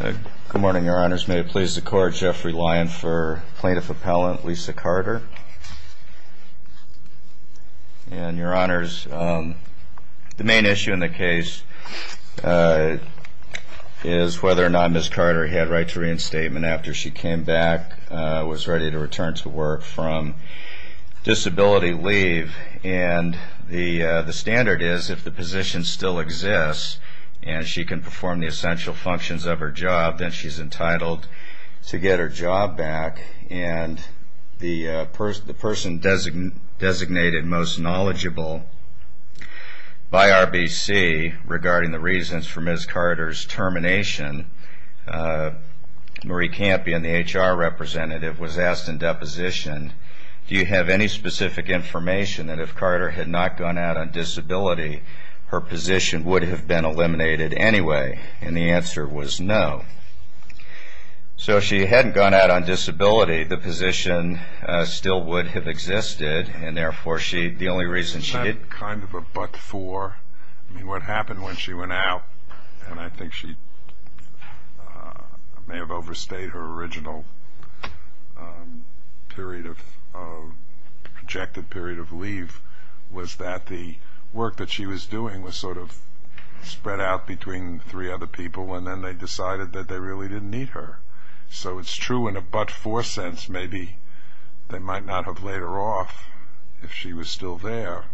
Good morning your honors. May it please the court, Jeffrey Lyon for plaintiff appellant Lisa Carter. And your honors, the main issue in the case is whether or not Ms. Carter had right to reinstatement after she came back, was ready to return to work from disability leave. And the the standard is if the functions of her job that she's entitled to get her job back. And the person designated most knowledgeable by RBC regarding the reasons for Ms. Carter's termination, Marie Campion, the HR representative, was asked in deposition, do you have any specific information that if Carter had not gone out on disability her position would have been eliminated anyway? And the answer was no. So if she hadn't gone out on disability the position still would have existed and therefore she, the only reason she did. Isn't that kind of a but for? I mean what happened when she went out, and I think she may have overstayed her original period of, projected period of leave, was that the work that she was doing was sort of spread out between three other people and then they decided that they really didn't need her. So it's true in a but for sense, maybe they might not have laid her off if she was still there,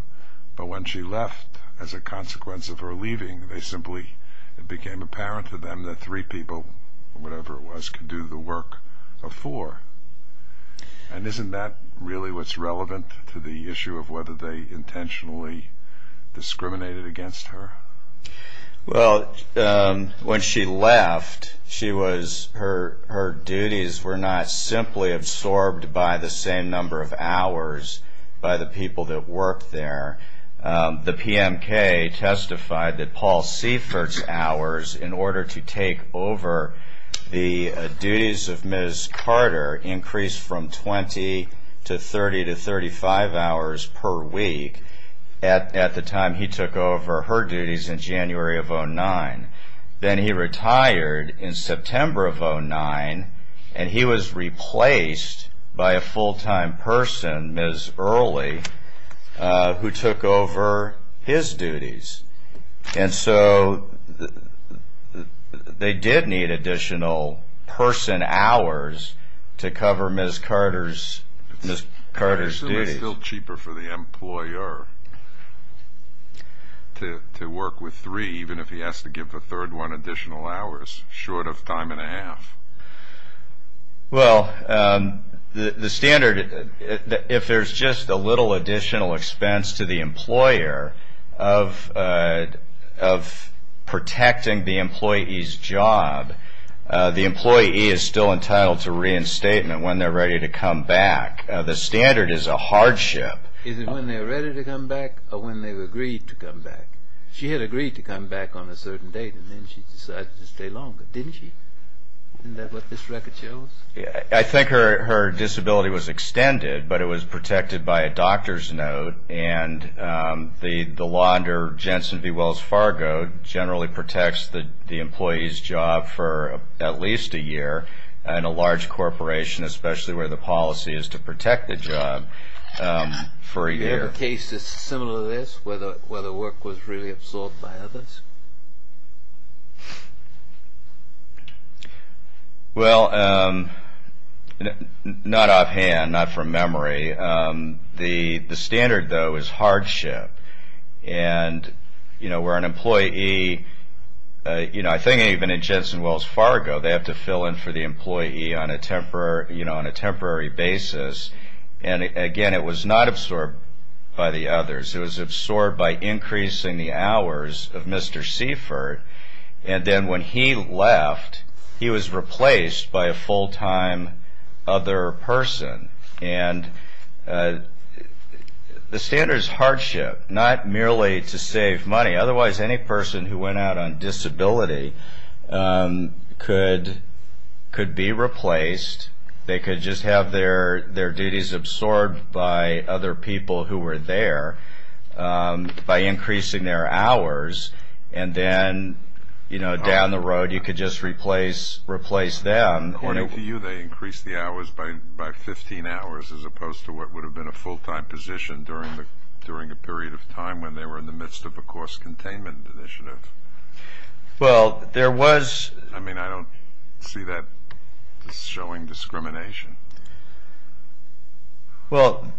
but when she left as a consequence of her leaving they simply, it became apparent to them that three people, whatever it was, could do the work of four. And isn't that really what's happened to her? Well, when she left, her duties were not simply absorbed by the same number of hours by the people that worked there. The PMK testified that Paul Seifert's hours, in order to take over the duties of Ms. Carter, increased from 20 to 30 to 35 hours per week. At the time he took over her duties in January of 09. Then he retired in September of 09, and he was replaced by a full-time person, Ms. Early, who took over his duties. And so they did need additional person hours to cover Ms. Carter's, Ms. Carter's duties. So it's still cheaper for the employer to work with three, even if he has to give the third one additional hours, short of time and a half? Well, the standard, if there's just a little additional expense to the employer of protecting the employee's job, the employee is still entitled to reinstatement when they're ready to come back. The standard is a hardship. Is it when they're ready to come back, or when they've agreed to come back? She had agreed to come back on a certain date, and then she decided to stay longer, didn't she? Isn't that what this record shows? I think her disability was extended, but it was protected by a doctor's note, and the law under Jensen v. Wells Fargo generally protects the employee's job for at least a year in a large corporation, especially where the policy is to protect the job for a year. Do you have a case that's similar to this, where the work was really absorbed by others? Well, not offhand, not from memory. The standard, though, is hardship, and where an employee, I think even in Jensen Wells Fargo, they have to fill in for the employee on a temporary basis, and again, it was not absorbed by the others. It was absorbed by increasing the hours of Mr. Seifert, and then when he left, he was replaced by a full-time other person, and the standard is hardship, not merely to save money. Otherwise, any person who went out on disability could be replaced. They could just have their duties absorbed by other people who were there by increasing their hours, and then down the road, you could just replace them. According to you, they increased the hours by 15 hours, as opposed to what would have been a full-time position during a period of time when they were in the midst of a cost containment initiative. I mean, I don't see that showing discrimination. Well,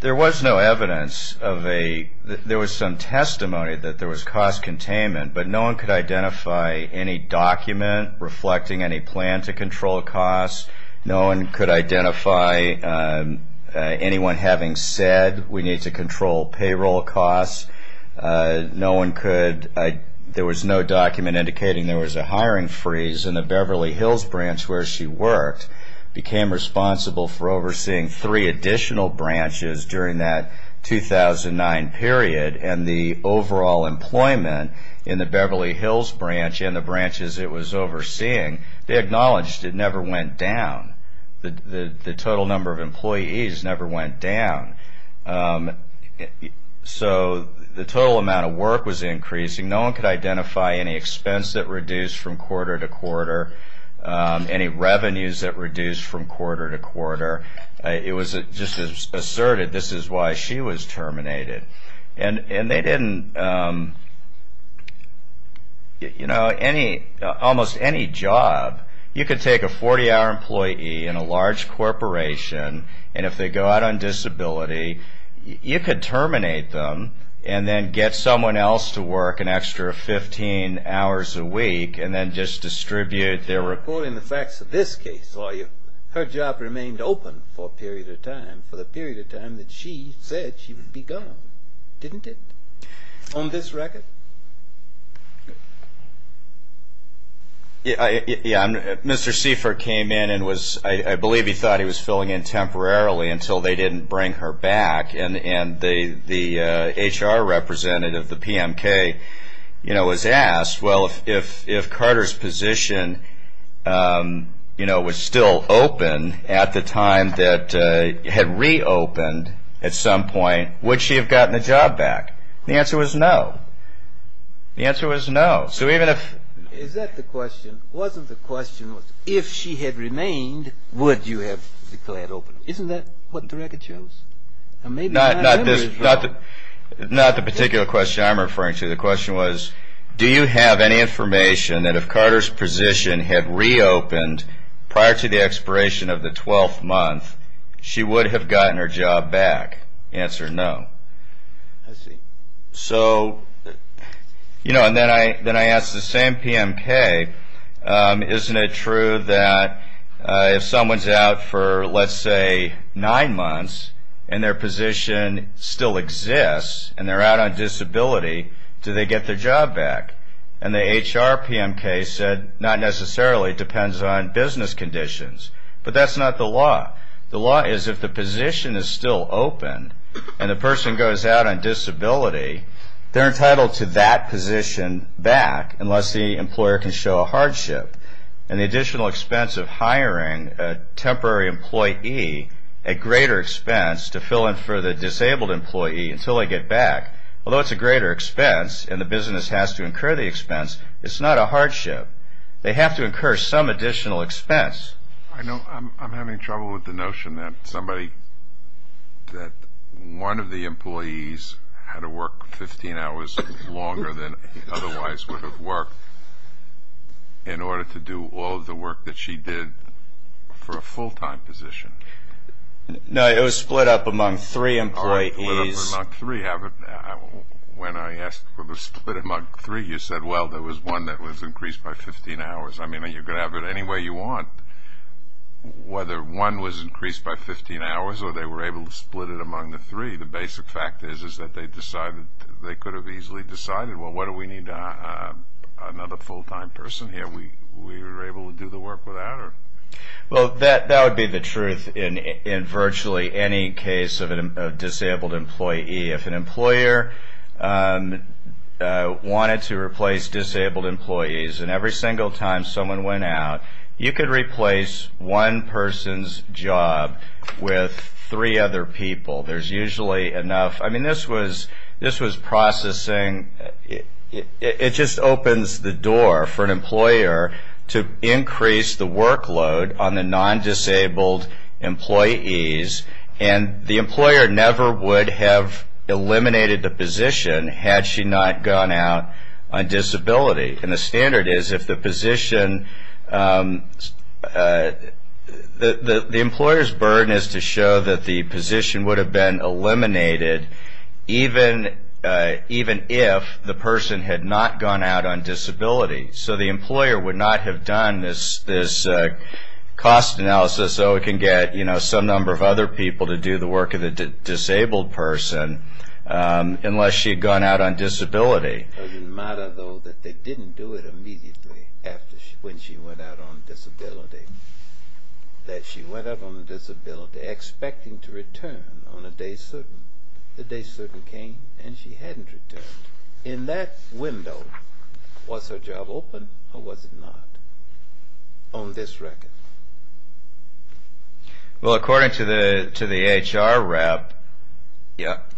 there was some testimony that there was cost containment, but no one could identify any document reflecting any plan to control costs. No one could identify anyone having said, we need to control payroll costs. There was no document indicating there was a hiring freeze, and the Beverly Hills branch where she worked became responsible for overseeing three additional branches during that 2009 period, and the overall employment in the Beverly Hills branch and the branches it was overseeing, they acknowledged it never went down. The total number of employees never went down, so the total amount of work was increasing. No one could identify any expense that reduced from quarter to quarter, any revenues that reduced from quarter to quarter. It was just asserted, this is why she was terminated. And they didn't, you know, almost any job, you could take a 40-hour employee in a large corporation, and if they go out on disability, you could terminate them, and then get someone else to work an extra 15 hours a week, and then just distribute their work. According to the facts of this case, her job remained open for a period of time, for the period of time that she said she would be gone, didn't it? On this record? Yeah, Mr. Seifer came in and was, I believe he thought he was filling in temporarily until they didn't bring her back, and the HR representative, the PMK, you know, was asked, well, if Carter's position, you know, was still open at the time that, had reopened at some point, would she have gotten a job back? The answer was no. The answer was no. So even if... Is that the question? Wasn't the question, if she had remained, would you have declared open? Isn't that what the record shows? Not the particular question I'm referring to. The question was, do you have any information that if Carter's position had reopened prior to the expiration of the 12th month, she would have gotten her job back? Answer, no. I see. So, you know, and then I asked the same PMK, isn't it true that if someone's out for, let's say, nine months, and their position still exists, and they're out on disability, do they get their job back? And the HR PMK said, not necessarily. It depends on business conditions. But that's not the law. The law is if the position is still open, and the person goes out on disability, they're entitled to that position back unless the employer can show a hardship. And the additional expense of hiring a temporary employee, a greater expense to fill in for the disabled employee until they get back, although it's a greater expense, and the business has to incur the expense, it's not a hardship. They have to incur some additional expense. I know I'm having trouble with the notion that somebody, that one of the employees had to work 15 hours longer than otherwise would have worked in order to do all of the work that she did for a full-time position. No, it was split up among three employees. When I asked for the split among three, you said, well, there was one that was increased by 15 hours. I mean, you can have it any way you want. Whether one was increased by 15 hours or they were able to split it among the three, the basic fact is that they could have easily decided, well, what do we need another full-time person here? We were able to do the work without her. Well, that would be the truth in virtually any case of a disabled employee. If an employer wanted to replace disabled employees and every single time someone went out, you could replace one person's job with three other people. I mean, this was processing. It just opens the door for an employer to increase the workload on the non-disabled employees, and the employer never would have eliminated the position had she not gone out on disability. And the standard is if the position – the employer's burden is to show that the position would have been eliminated even if the person had not gone out on disability. So the employer would not have done this cost analysis so it can get some number of other people to do the work of the disabled person unless she had gone out on disability. It doesn't matter, though, that they didn't do it immediately when she went out on disability, that she went out on disability expecting to return on a day certain. The day certain came and she hadn't returned. In that window, was her job open or was it not on this record? Well, according to the HR rep,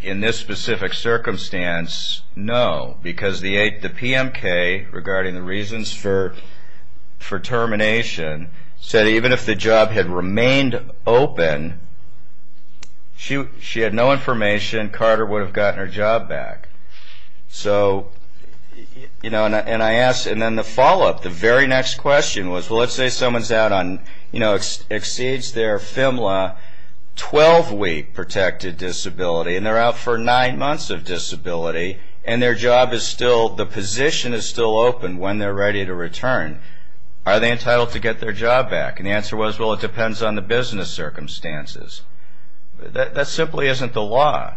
in this specific circumstance, no, because the PMK, regarding the reasons for termination, said even if the job had remained open, she had no information Carter would have gotten her job back. So, you know, and I asked – and then the follow-up, the very next question was, well, let's say someone's out on – you know, exceeds their FMLA 12-week protected disability and they're out for nine months of disability and their job is still – the position is still open when they're ready to return. Are they entitled to get their job back? And the answer was, well, it depends on the business circumstances. That simply isn't the law.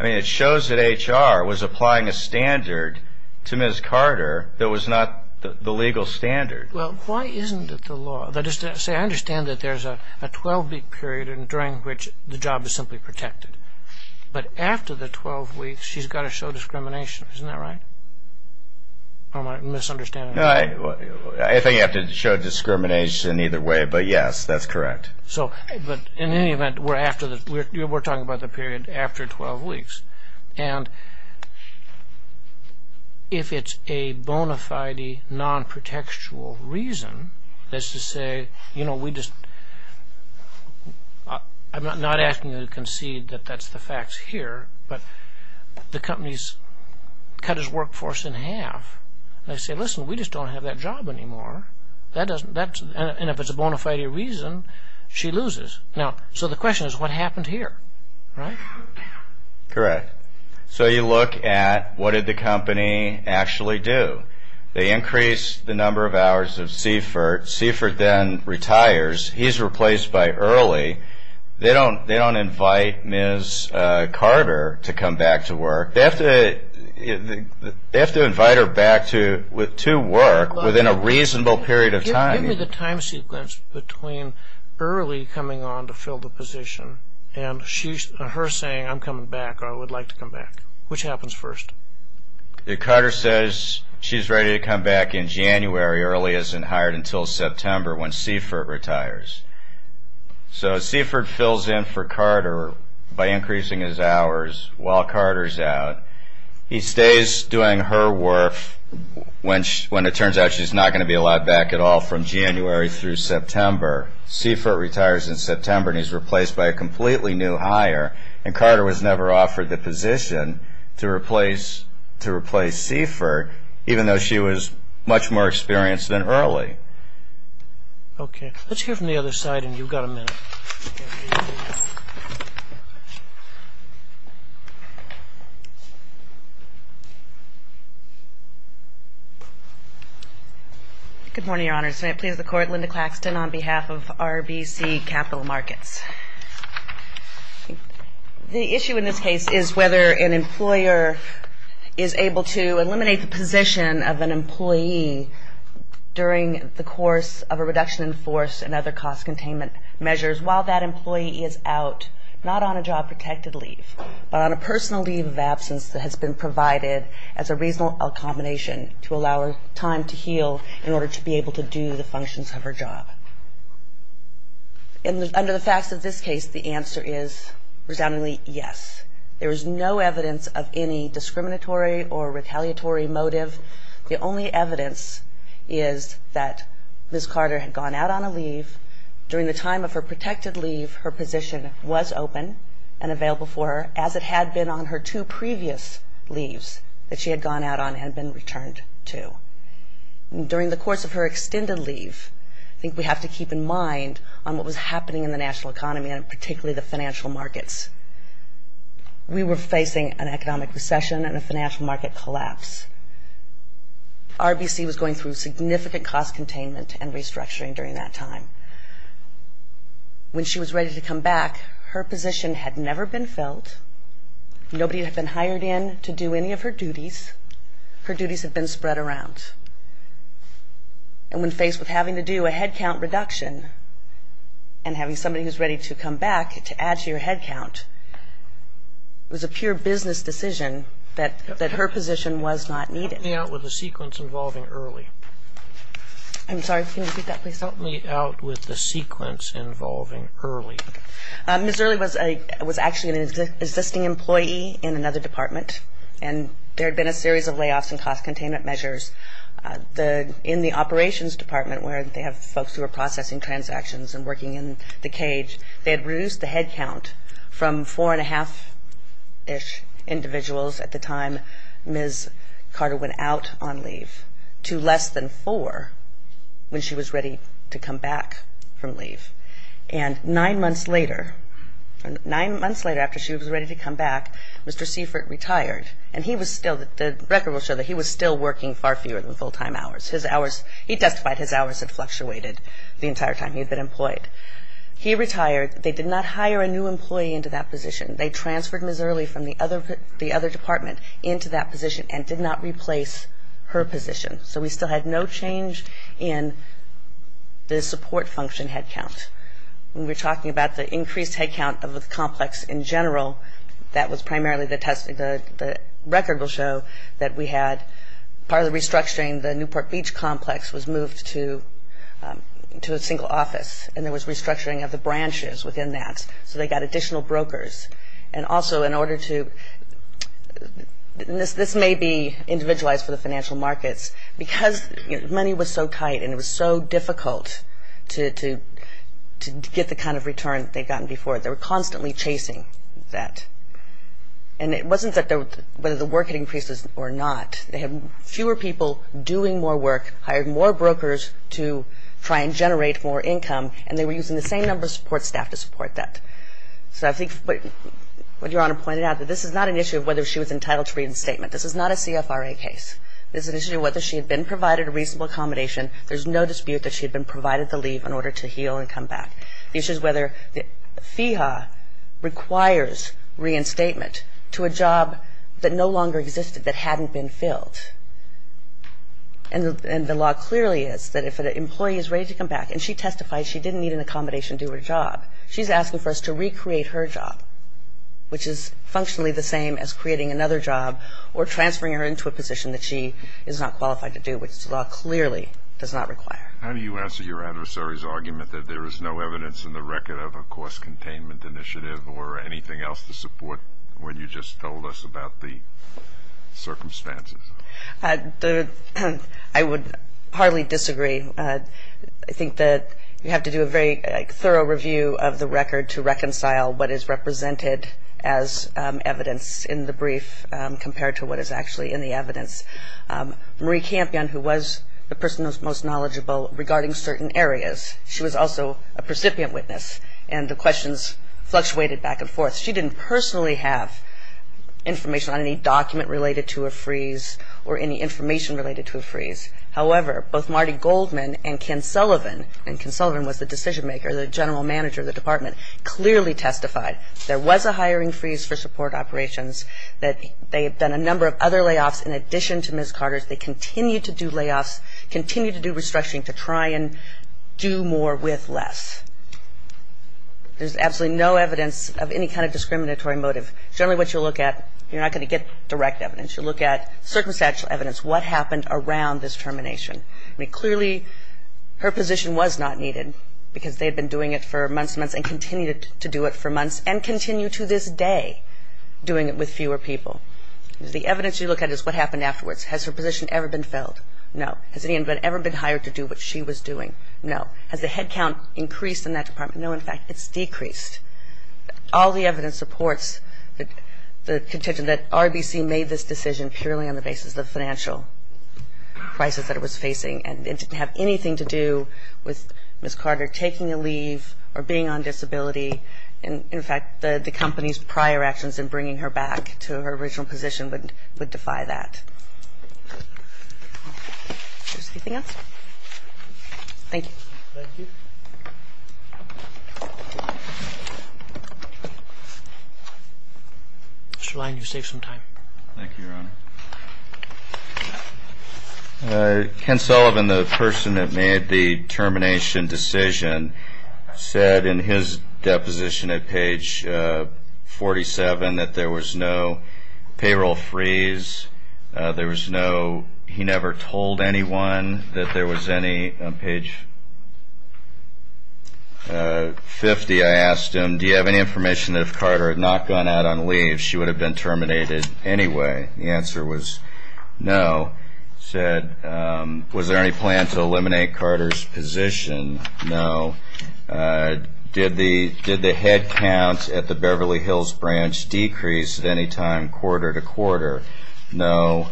I mean, it shows that HR was applying a standard to Ms. Carter that was not the legal standard. Well, why isn't it the law? I understand that there's a 12-week period during which the job is simply protected, but after the 12 weeks, she's got to show discrimination, isn't that right? Or am I misunderstanding? I think you have to show discrimination either way, but yes, that's correct. So, but in any event, we're after the – we're talking about the period after 12 weeks. And if it's a bona fide non-protectual reason, that's to say, you know, we just – I'm not asking you to concede that that's the facts here, but the company's cut its workforce in half. And they say, listen, we just don't have that job anymore. That doesn't – and if it's a bona fide reason, she loses. Now, so the question is what happened here, right? Correct. So you look at what did the company actually do. They increased the number of hours of Seifert. Seifert then retires. He's replaced by Early. They don't invite Ms. Carter to come back to work. They have to invite her back to work within a reasonable period of time. Give me the time sequence between Early coming on to fill the position and her saying, I'm coming back or I would like to come back. Which happens first? Carter says she's ready to come back in January, Early isn't hired until September when Seifert retires. So Seifert fills in for Carter by increasing his hours while Carter's out. He stays doing her work when it turns out she's not going to be allowed back at all from January through September. Seifert retires in September and he's replaced by a completely new hire. And Carter was never offered the position to replace Seifert, even though she was much more experienced than Early. Okay. Let's hear from the other side and you've got a minute. Good morning, Your Honors. May it please the Court, Linda Claxton on behalf of RBC Capital Markets. The issue in this case is whether an employer is able to eliminate the position of an employee during the course of a reduction in force and other cost containment measures while that employee is out, not on a job protected leave, but on a personal leave of absence that has been provided as a reasonable combination to allow her time to heal in order to be able to do the functions of her job. Under the facts of this case, the answer is resoundingly yes. There is no evidence of any discriminatory or retaliatory motive. The only evidence is that Ms. Carter had gone out on a leave. During the time of her protected leave, her position was open and available for her as it had been on her two previous leaves that she had gone out on and had been returned to. During the course of her extended leave, I think we have to keep in mind on what was happening in the national economy and particularly the financial markets. We were facing an economic recession and a financial market collapse. RBC was going through significant cost containment and restructuring during that time. When she was ready to come back, her position had never been filled. Nobody had been hired in to do any of her duties. Her duties had been spread around. And when faced with having to do a headcount reduction and having somebody who is ready to come back to add to your headcount, it was a pure business decision that her position was not needed. Help me out with the sequence involving Early. Ms. Early was actually an existing employee in another department and there had been a series of layoffs and cost containment measures. In the operations department where they have folks who are processing transactions and working in the cage, they had reduced the headcount from four and a half-ish individuals at the time Ms. Carter went out on leave to less than four when she was ready to come back from leave. And nine months later, nine months later after she was ready to come back, Mr. Seifert retired and he was still, the record will show that he was still working far fewer than full-time hours. His hours, he testified his hours had fluctuated the entire time he had been employed. He retired. They did not hire a new employee into that position. They transferred Ms. Early from the other department into that position and did not replace her position. So we still had no change in the support function headcount. When we're talking about the increased headcount of the complex in general, that was primarily the test, the record will show that we had, part of the work was restructuring of the branches within that. So they got additional brokers. And also in order to, this may be individualized for the financial markets, because money was so tight and it was so difficult to get the kind of return they'd gotten before, they were constantly chasing that. And it wasn't that whether the work had increased or not. They had fewer people doing more work, hired more brokers to try and generate more income, and they were using the same number of support staff to support that. So I think what Your Honor pointed out, that this is not an issue of whether she was entitled to reinstatement. This is not a CFRA case. This is an issue of whether she had been provided a reasonable accommodation. There's no dispute that she had been provided the leave in order to heal and come back. The issue is whether the FEHA requires reinstatement to a job that no longer existed that hadn't been filled. And the law clearly is that if an employee is ready to come back, and she testified she didn't need an accommodation due to a job, she's asking for us to recreate her job, which is functionally the same as creating another job or transferring her into a position that she is not qualified to do, which the law clearly does not require. How do you answer your adversary's argument that there is no evidence in the record of a cost containment initiative or anything else to support what you just told us about the circumstances? I would hardly disagree. I think that you have to do a very thorough review of the record to reconcile what is represented as evidence in the brief compared to what is actually in the evidence. Marie Campion, who was the person who was most knowledgeable regarding certain areas, she was also a precipient witness, and the questions fluctuated back and forth. She didn't personally have information on any document related to a freeze or any information related to a freeze. However, both Marty Goldman and Ken Sullivan, and Ken Sullivan was the decision maker, the general manager of the department, clearly testified there was a hiring freeze for support operations, that they had done a number of other layoffs in addition to Ms. Carter's. They continued to do layoffs, continued to do restructuring to try and do more with less. There's absolutely no evidence of any kind of discriminatory motive. Generally what you'll look at, you're not going to get direct evidence. You'll look at circumstantial evidence, what happened around this termination. Clearly her position was not needed because they had been doing it for months and months and continued to do it for months and continue to this day doing it with fewer people. The evidence you look at is what happened afterwards. Has her position ever been filled? No. Has anyone ever been hired to do what she was doing? No. Has the head count increased in that department? No. In fact, it's decreased. All the evidence supports the contention that RBC made this decision purely on the basis of financial crisis that it was facing and it didn't have anything to do with Ms. Carter taking a leave or being on disability. In fact, the company's prior actions in bringing her back to her original position would defy that. Mr. Lyon, you saved some time. Thank you, Your Honor. Ken Sullivan, the person that made the termination decision, said in his deposition at page 47 that there was no payroll freeze, there was no, he never told anyone that there was any, on page 50 I asked him, do you have any information that if Carter had not gone out on leave, she would have been terminated anyway? The answer was no. Said, was there any plan to eliminate Carter's position? No. Did the head count at the Beverly Hills branch decrease at any time quarter to quarter? No.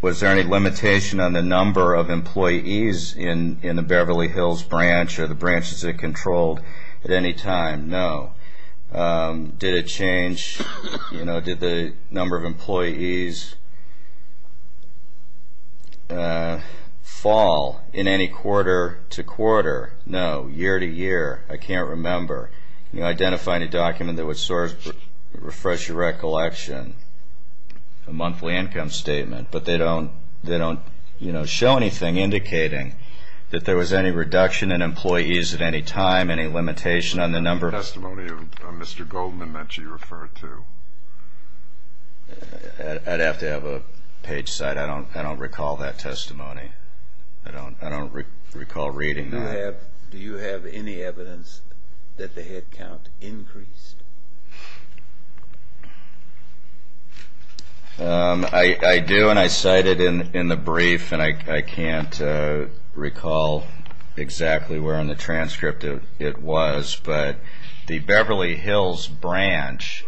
Was there any limitation on the number of employees in the Beverly Hills branch or the branches that were controlled at any time? No. Did it change, did the number of employees fall in any quarter to quarter? No. Year to year, I can't remember. Can you identify any document that would refresh your recollection? A monthly income statement, but they don't show anything indicating that there was any reduction in employees at any time, any limitation on the number of employees. Testimony of Mr. Goldman that you referred to. I'd have to have a page cite. I don't recall that testimony. I don't recall reading that. Do you have any evidence that the head count increased? I do, and I cited in the brief, and I can't remember what it was, but I can tell you that I can't recall exactly where in the transcript it was, but the Beverly Hills branch,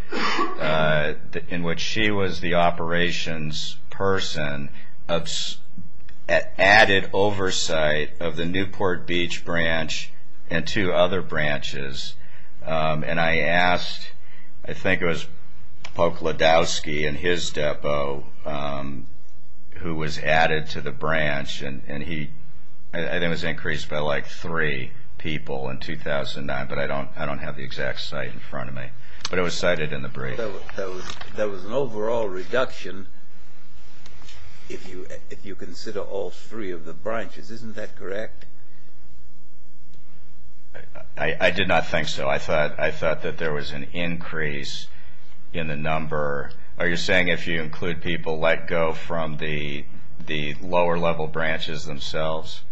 in which she was the operations person, added oversight of the Newport Beach branch and two other branches, and I asked, I think it was Pope Ledowski and his depot, who was the head of the Newport Beach branch, and he, I think it was increased by like three people in 2009, but I don't have the exact site in front of me, but it was cited in the brief. There was an overall reduction if you consider all three of the branches. Isn't that correct? I did not think so. I thought that there was an increase in the number. Are you saying if you include people, let go from the lower level branches themselves?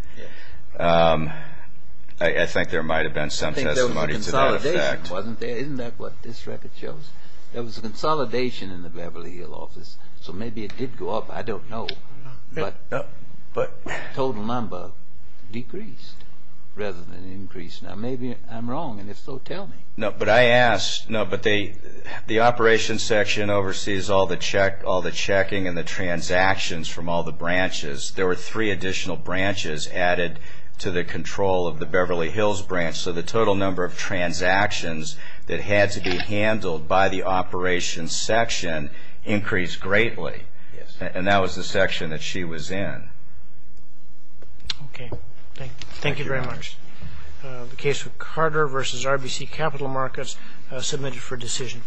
I think there might have been some testimony to that effect. I think there was a consolidation, wasn't there? Isn't that what this record shows? There was a consolidation in the Beverly Hill office, so maybe it did go up. I don't know, but total number decreased rather than increased. Now maybe I'm wrong, and if so, tell me. No, but I asked, but the operations section oversees all the checking and the transactions from all the branches. There were three additional branches added to the control of the Beverly Hills branch, so the total number of transactions that had to be handled by the operations section increased greatly, and that was the section that she was in. Okay. Thank you very much. The case of Carter v. RBC Capital Markets submitted for decision.